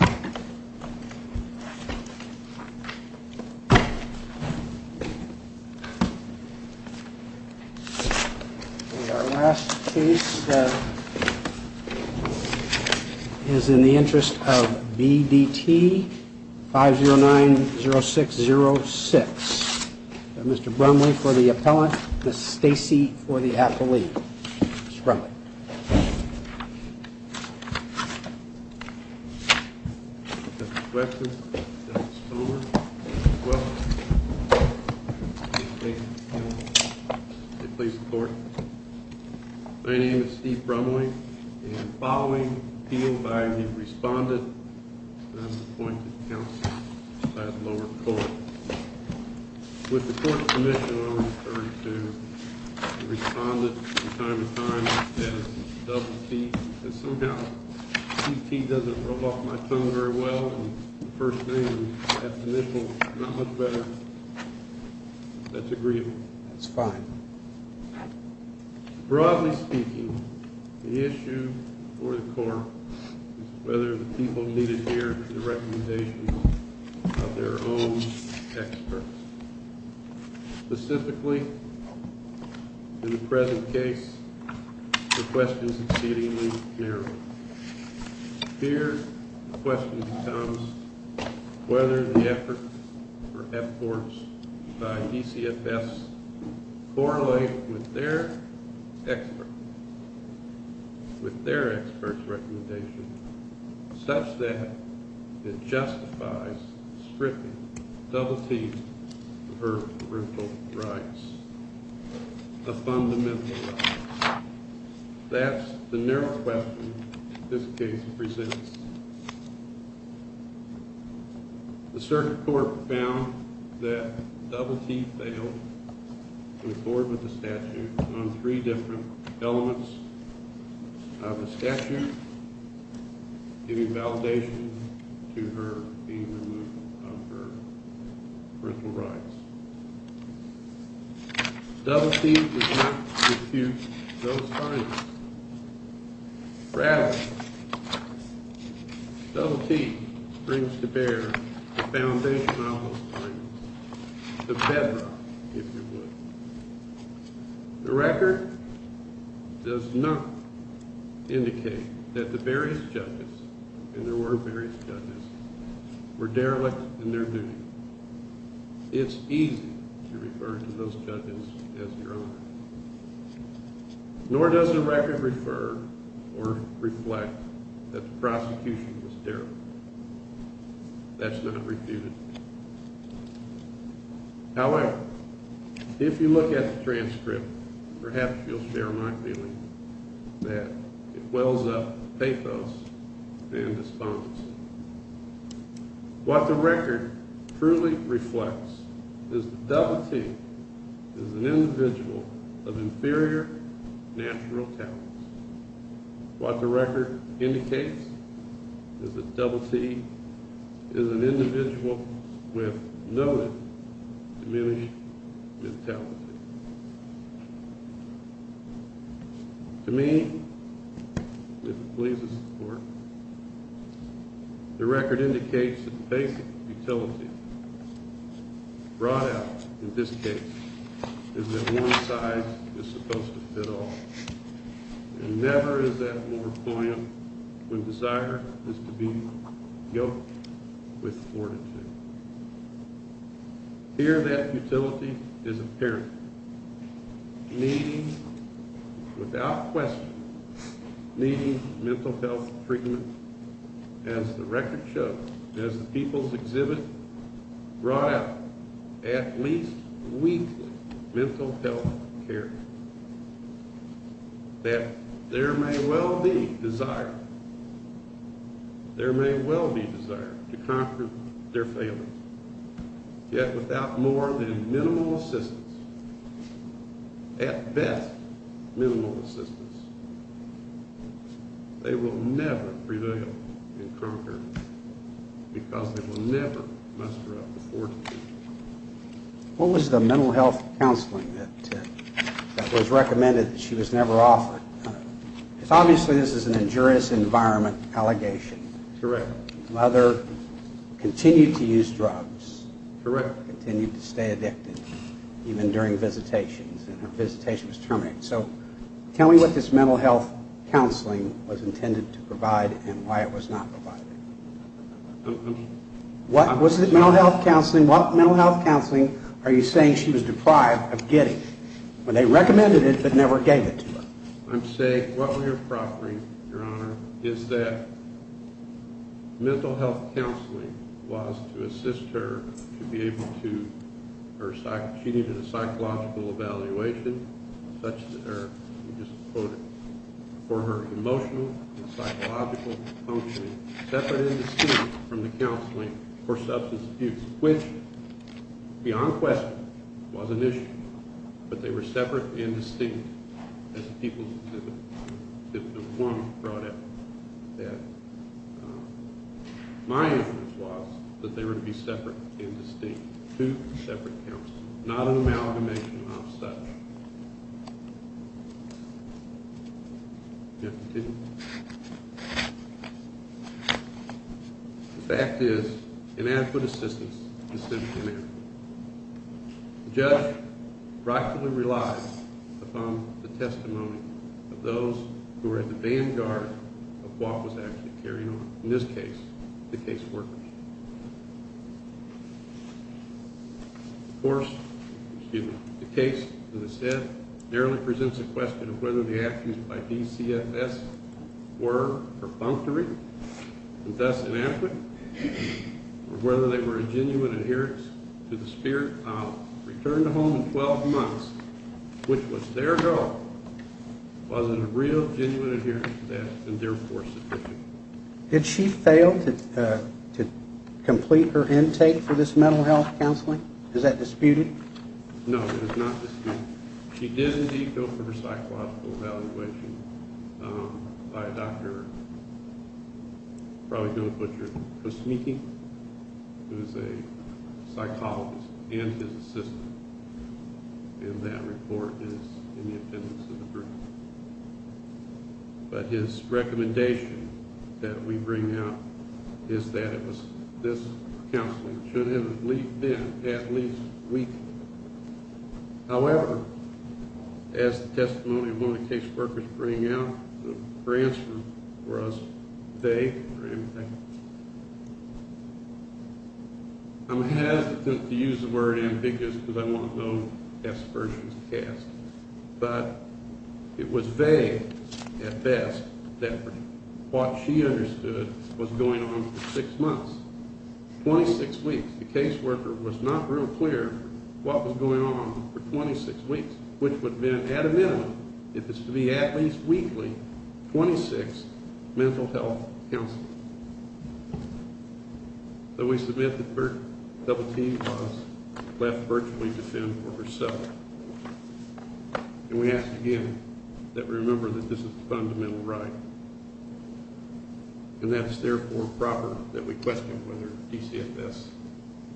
Our last case is in the interest of B.D.T., 5090606, Mr. Brumley for the Appellant, Ms. Brumley, and following appeal by the Respondent, I'm appointed Counselor by the lower court. With the Court's permission, I will return to the Respondent from time to time as D.T. does not roll off my tongue very well on the first name, that's initial, not much better. That's agreeable. That's fine. Broadly speaking, the issue for the Court is whether the people need to hear the recommendations of their own experts. Specifically, in the present case, the question is exceedingly narrow. Here, the question becomes whether the effort for F.C.U.R.T.S. by DCFS correlate with their experts, with their experts' recommendations, such that it justifies stripping D.T. of her parental rights, the fundamental rights. That's the narrow question this case presents. The Circuit Court found that D.T. failed to accord with the statute on three different elements of the statute, giving validation to her being removed of her parental rights. D.T. does not refute those findings. Rather, D.T. brings to bear the foundation of those findings, the bedrock, if you would. The record does not indicate that the various judges, and there were various judges, were derelict in their duty. It's easy to refer to those judges as derelict, nor does the record refer or reflect that the prosecution was derelict. That's not refuted. However, if you look at the transcript, perhaps you'll share my feeling that it wells up pathos and despondency. What the record truly reflects is that D.T. is an individual of inferior financial talents. What the record indicates is that D.T. is an individual with noted diminished mentalities. To me, if it pleases the Court, the record indicates that the basic utility brought out in this case is that one size is supposed to fit all, and never is that more poignant when desire is to be yoked with fortitude. Here, that utility is apparent. Needing, without question, needing mental health treatment, as the record shows, as the People's Exhibit brought out, at least weekly, mental health care. That there may well be desire, there may well be desire to conquer their failings, yet without more than minimal assistance, at best minimal assistance, they will never prevail and conquer because they will never muster up the fortitude. What was the mental health counseling that was recommended that she was never offered? Because obviously this is an injurious environment allegation. Correct. Mother continued to use drugs. Correct. Continued to stay addicted, even during visitations, and her visitation was terminated. So tell me what this mental health counseling was intended to provide and why it was not provided. What was the mental health counseling, what mental health counseling are you saying she was deprived of getting when they recommended it but never gave it to her? I'm saying what we're proffering, Your Honor, is that mental health counseling was to assist her to be able to, she needed a psychological evaluation such that her, let me just quote it, for her emotional and psychological functioning, separate and distinct from the counseling for substance abuse, which, beyond question, was an issue. But they were separate and distinct, as the People's Exhibit 1 brought up, that my inference was that they were to be separate and distinct, two separate counselors, not an amalgamation of such. The fact is inadequate assistance is simply inadequate. The judge rightfully relies upon the testimony of those who are at the vanguard of what was actually carried on, in this case, the case workers. Of course, the case, as I said, merely presents a question of whether the actions by DCFS were perfunctory and thus inadequate, or whether they were a genuine adherence to the spirit of return to home in 12 months, which was their goal. Was it a real, genuine adherence to that and therefore sufficient? Did she fail to complete her intake for this mental health counseling? Is that disputed? No, it is not disputed. She did, indeed, go for her psychological evaluation by a doctor, you probably know of Butcher Kosmiki, who is a psychologist and his assistant, and that report is in the attendance of the group. But his recommendation that we bring out is that this counseling should have been at least weekly. However, as the testimony of one of the case workers bring out, her answer was vague. I'm hesitant to use the word ambiguous because I want no S versions cast. But it was vague, at best, that what she understood was going on for six months. Twenty-six weeks. The case worker was not real clear what was going on for 26 weeks, which would have been, at a minimum, if it's to be at least weekly, 26 mental health counseling. Though we submit that Bert DoubleT was left virtually defenseless. And we ask again that we remember that this is a fundamental right. And that it's therefore proper that we question whether DCFS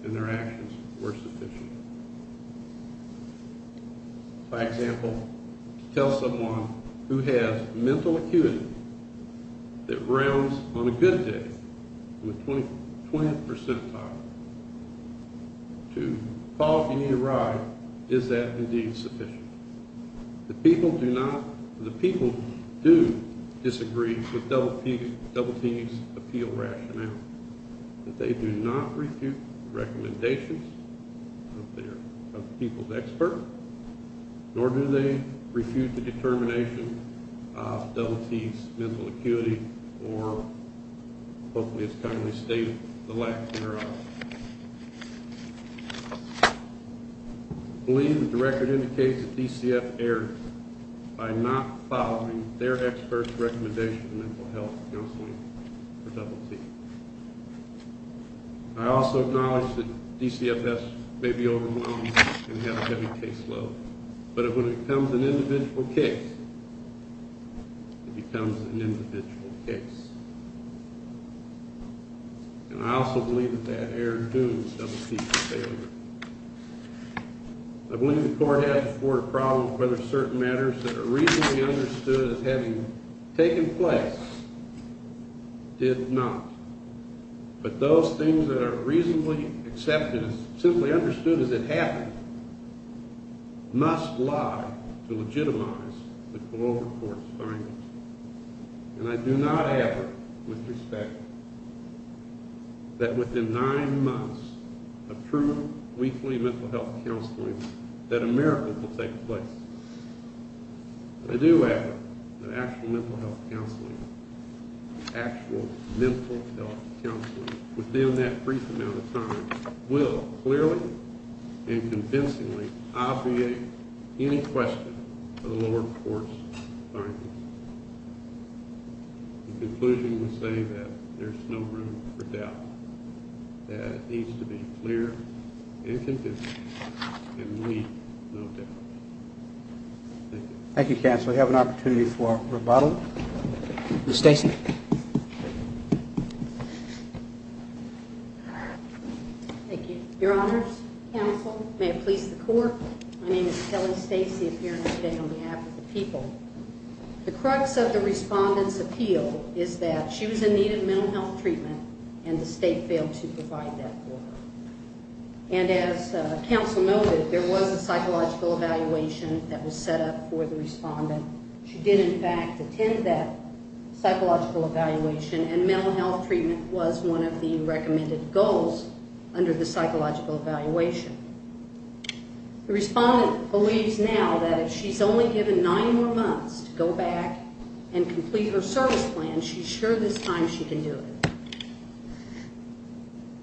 and their actions were sufficient. For example, to tell someone who has mental acuity that rounds on a good day, in the 20th percentile, to call if you need a ride, is that indeed sufficient? The people do disagree with DoubleT's appeal rationale. That they do not refute recommendations of the people's expert, nor do they refute the determination of DoubleT's mental acuity, or, hopefully as kindly stated, the lack of generosity. I believe that the record indicates that DCFS erred by not following their expert's recommendation of mental health counseling for DoubleT. I also acknowledge that DCFS may be overwhelmed and have a heavy case load, but when it becomes an individual case, it becomes an individual case. And I also believe that that error doomed DoubleT to failure. I believe the court has to support a problem of whether certain matters that are reasonably understood as having taken place did not. But those things that are reasonably accepted, simply understood as it happened, must lie to legitimize the global court's findings. And I do not agree with respect that within nine months of true, weekly mental health counseling, that a miracle will take place. But I do agree that actual mental health counseling, actual mental health counseling, within that brief amount of time, will clearly and convincingly obviate any question of the lower court's findings. The conclusion would say that there's no room for doubt. That it needs to be clear and convincing and leave no doubt. Thank you, counsel. We have an opportunity for rebuttal. Ms. Stacy. Thank you. Your honors, counsel, may it please the court. My name is Kelly Stacy, appearing today on behalf of the people. The crux of the respondent's appeal is that she was in need of mental health treatment and the state failed to provide that for her. And as counsel noted, there was a psychological evaluation that was set up for the respondent. She did, in fact, attend that psychological evaluation and mental health treatment was one of the recommended goals under the psychological evaluation. The respondent believes now that if she's only given nine more months to go back and complete her service plan, she's sure this time she can do it.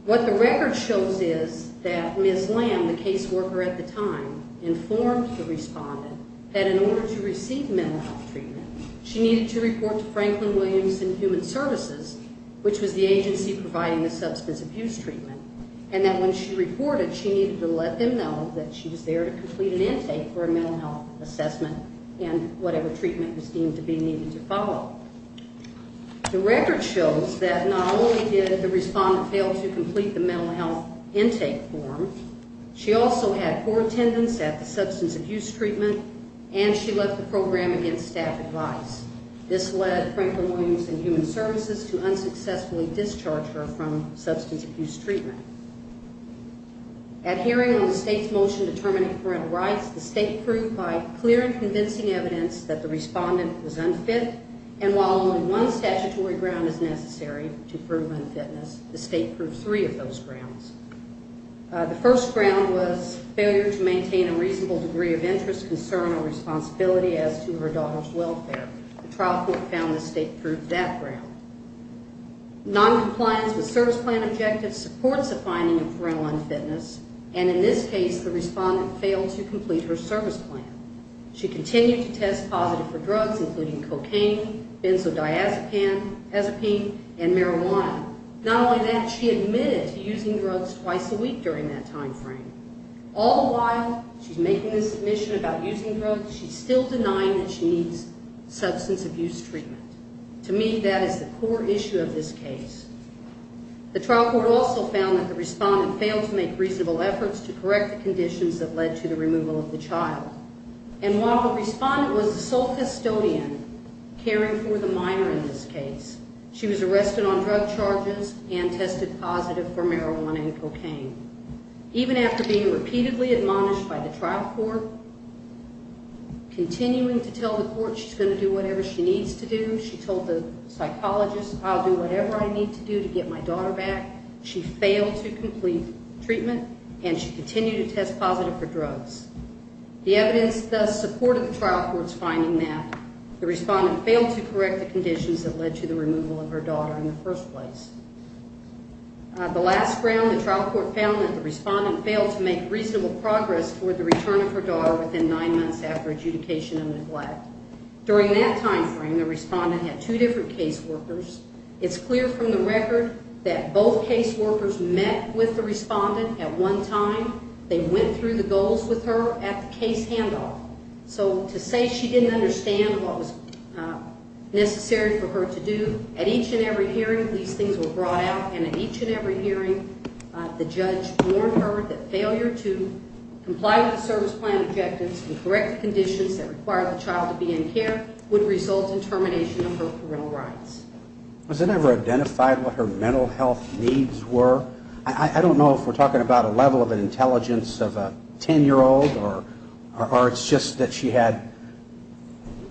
What the record shows is that Ms. Lamb, the case worker at the time, informed the respondent that in order to receive mental health treatment, she needed to report to Franklin Williams and Human Services, which was the agency providing the substance abuse treatment, and that when she reported, she needed to let them know that she was there to complete an intake for a mental health assessment and whatever treatment was deemed to be needed to follow. The record shows that not only did the respondent fail to complete the mental health intake form, she also had poor attendance at the substance abuse treatment and she left the program against staff advice. This led Franklin Williams and Human Services to unsuccessfully discharge her from substance abuse treatment. At hearing on the state's motion determining parental rights, the state proved by clear and convincing evidence that the respondent was unfit and while only one statutory ground is necessary to prove unfitness, the state proved three of those grounds. The first ground was failure to maintain a reasonable degree of interest, concern, or responsibility as to her daughter's welfare. The trial court found the state proved that ground. Noncompliance with service plan objectives supports the finding of parental unfitness, and in this case, the respondent failed to complete her service plan. She continued to test positive for drugs including cocaine, benzodiazepine, and marijuana. Not only that, she admitted to using drugs twice a week during that time frame. All the while she's making this admission about using drugs, she's still denying that she needs substance abuse treatment. To me, that is the core issue of this case. The trial court also found that the respondent failed to make reasonable efforts to correct the conditions that led to the removal of the child. And while the respondent was the sole custodian caring for the minor in this case, she was arrested on drug charges and tested positive for marijuana and cocaine. Even after being repeatedly admonished by the trial court, continuing to tell the court she's going to do whatever she needs to do, she told the psychologist, I'll do whatever I need to do to get my daughter back, she failed to complete treatment, and she continued to test positive for drugs. The evidence thus supported the trial court's finding that the respondent failed to correct the conditions that led to the removal of her daughter in the first place. The last round, the trial court found that the respondent failed to make reasonable progress for the return of her daughter within nine months after adjudication and neglect. During that time frame, the respondent had two different caseworkers. It's clear from the record that both caseworkers met with the respondent at one time. They went through the goals with her at the case handoff. So to say she didn't understand what was necessary for her to do, at each and every hearing these things were brought out, and at each and every hearing the judge warned her that failure to comply with the service plan objectives and correct the conditions that required the child to be in care would result in termination of her parental rights. Was it ever identified what her mental health needs were? I don't know if we're talking about a level of intelligence of a 10-year-old or it's just that she had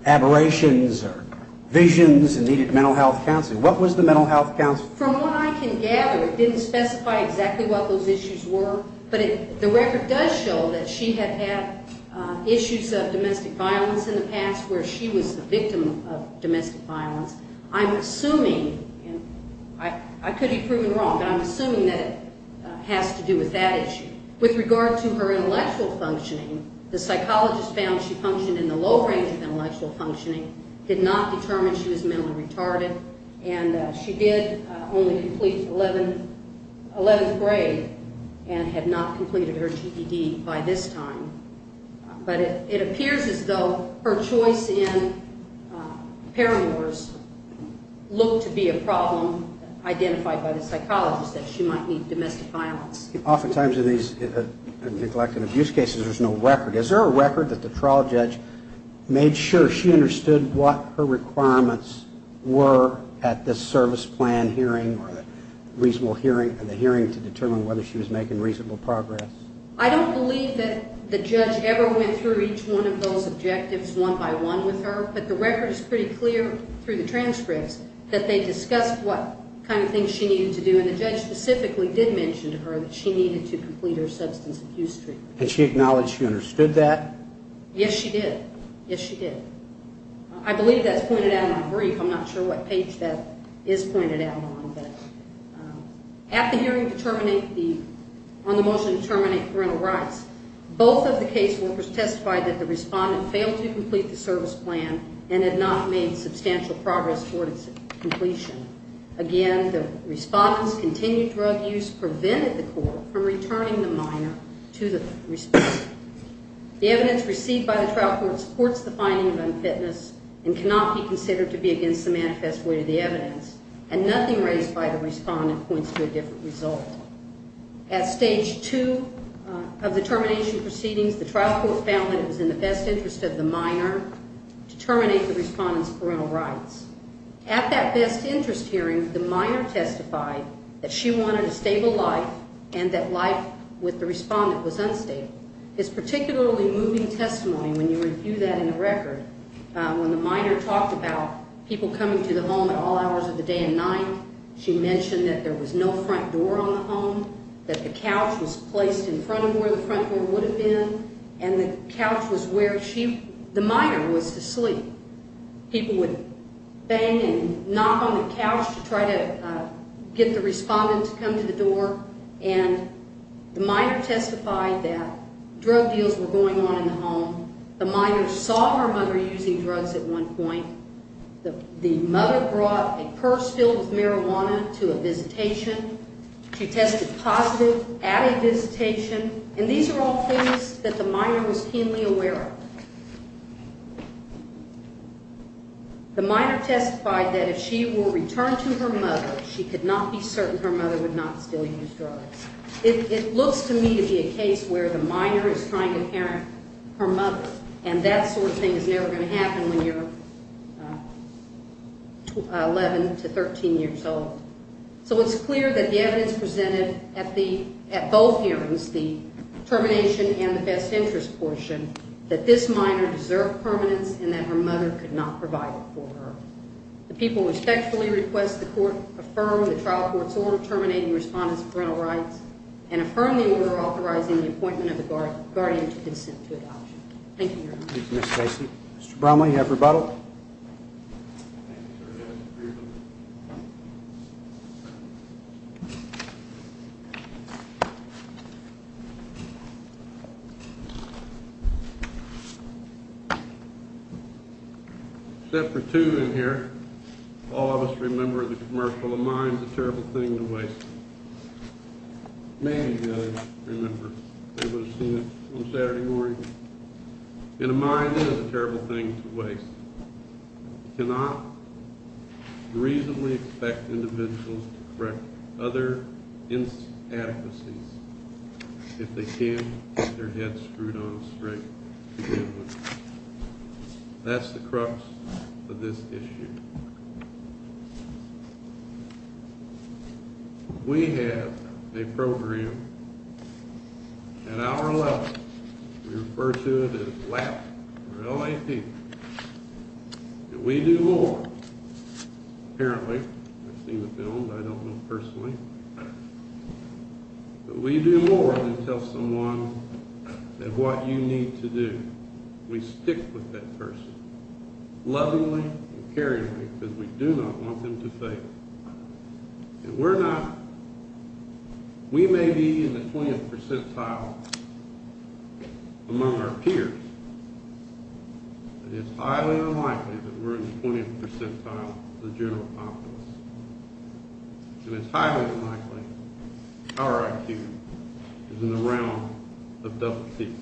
aberrations or visions and needed mental health counseling. What was the mental health counseling? From what I can gather, it didn't specify exactly what those issues were, but the record does show that she had had issues of domestic violence in the past where she was the victim of domestic violence. I'm assuming, and I could be proven wrong, that it has to do with that issue. With regard to her intellectual functioning, the psychologist found she functioned in the low range of intellectual functioning, did not determine she was mentally retarded, and she did only complete 11th grade and had not completed her GED by this time. But it appears as though her choice in parameters looked to be a problem identified by the psychologist, that she might need domestic violence. Oftentimes in these neglect and abuse cases, there's no record. Is there a record that the trial judge made sure she understood what her requirements were at the service plan hearing or the hearing to determine whether she was making reasonable progress? I don't believe that the judge ever went through each one of those objectives one by one with her, but the record is pretty clear in the transcripts that they discussed what kind of things she needed to do, and the judge specifically did mention to her that she needed to complete her substance abuse treatment. Did she acknowledge she understood that? Yes, she did. Yes, she did. I believe that's pointed out in the brief. I'm not sure what page that is pointed out on, but at the hearing on the motion to terminate parental rights, both of the caseworkers testified that the respondent had failed to complete the service plan and had not made substantial progress toward its completion. Again, the respondent's continued drug use prevented the court from returning the minor to the respondent. The evidence received by the trial court supports the finding of unfitness and cannot be considered to be against the manifest way of the evidence, and nothing raised by the respondent points to a different result. At stage two of the termination proceedings, the trial court found that it was in the best interest of the minor to terminate the respondent's parental rights. At that best interest hearing, the minor testified that she wanted a stable life and that life with the respondent was unstable. This particularly moving testimony, when you review that in the record, when the minor talked about people coming to the home at all hours of the day and night, she mentioned that there was no front door on the home, that the couch was placed in front of where the front door would have been, and the couch was where she, the minor, was to sleep. People would bang and knock on the couch to try to get the respondent to come to the door, and the minor testified that drug deals were going on in the home. The minor saw her mother using drugs at one point. The mother brought a purse filled with marijuana to a visitation. She tested positive at a visitation, and these are all things that the minor was keenly aware of. The minor testified that if she were returned to her mother, she could not be certain her mother would not still use drugs. It looks to me to be a case where the minor is trying to parent her mother, and that sort of thing is never going to happen when you're 11 to 13 years old. So it's clear that the evidence presented at both hearings, the termination and the best interest portion, that this minor deserved permanence and that her mother could not provide it for her. The people respectfully request the court affirm the trial court's order terminating respondent's parental rights and affirm the order authorizing the appointment of the guardian to consent to adoption. Thank you, Your Honor. Mr. Bromley, you have rebuttal. Thank you, Your Honor. Except for two in here, all of us remember the commercial, a mind is a terrible thing to waste. Many of you, I remember, would have seen it on Saturday morning. And a mind is a terrible thing to waste. You cannot reasonably expect individuals to correct other inadequacies if they can get their heads screwed on straight. That's the crux of this issue. We have a program at our level. We refer to it as LAP, L-A-P. And we do more. Apparently. I've seen the film, but I don't know personally. But we do more than tell someone that what you need to do, we stick with that person, lovingly and caringly, because we do not want them to fail. And we're not, we may be in the 20th percentile among our peers, but it's highly unlikely that we're in the 20th percentile of the general populace. And it's highly unlikely our IQ is in the realm of double T's.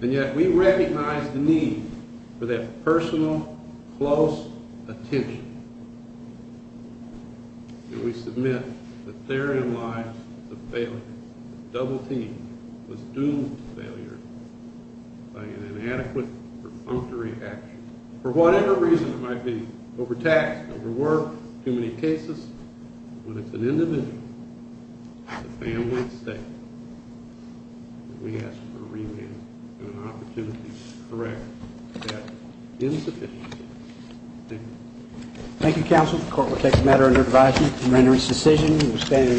And yet we recognize the need for that personal, close attention. And we submit that therein lies the failure. Double T was doomed to failure by an inadequate, perfunctory action. For whatever reason it might be, overtaxed, overworked, too many cases, when it's an individual, a family, a state, we ask for a revamp and an opportunity to correct that insufficiency. Thank you.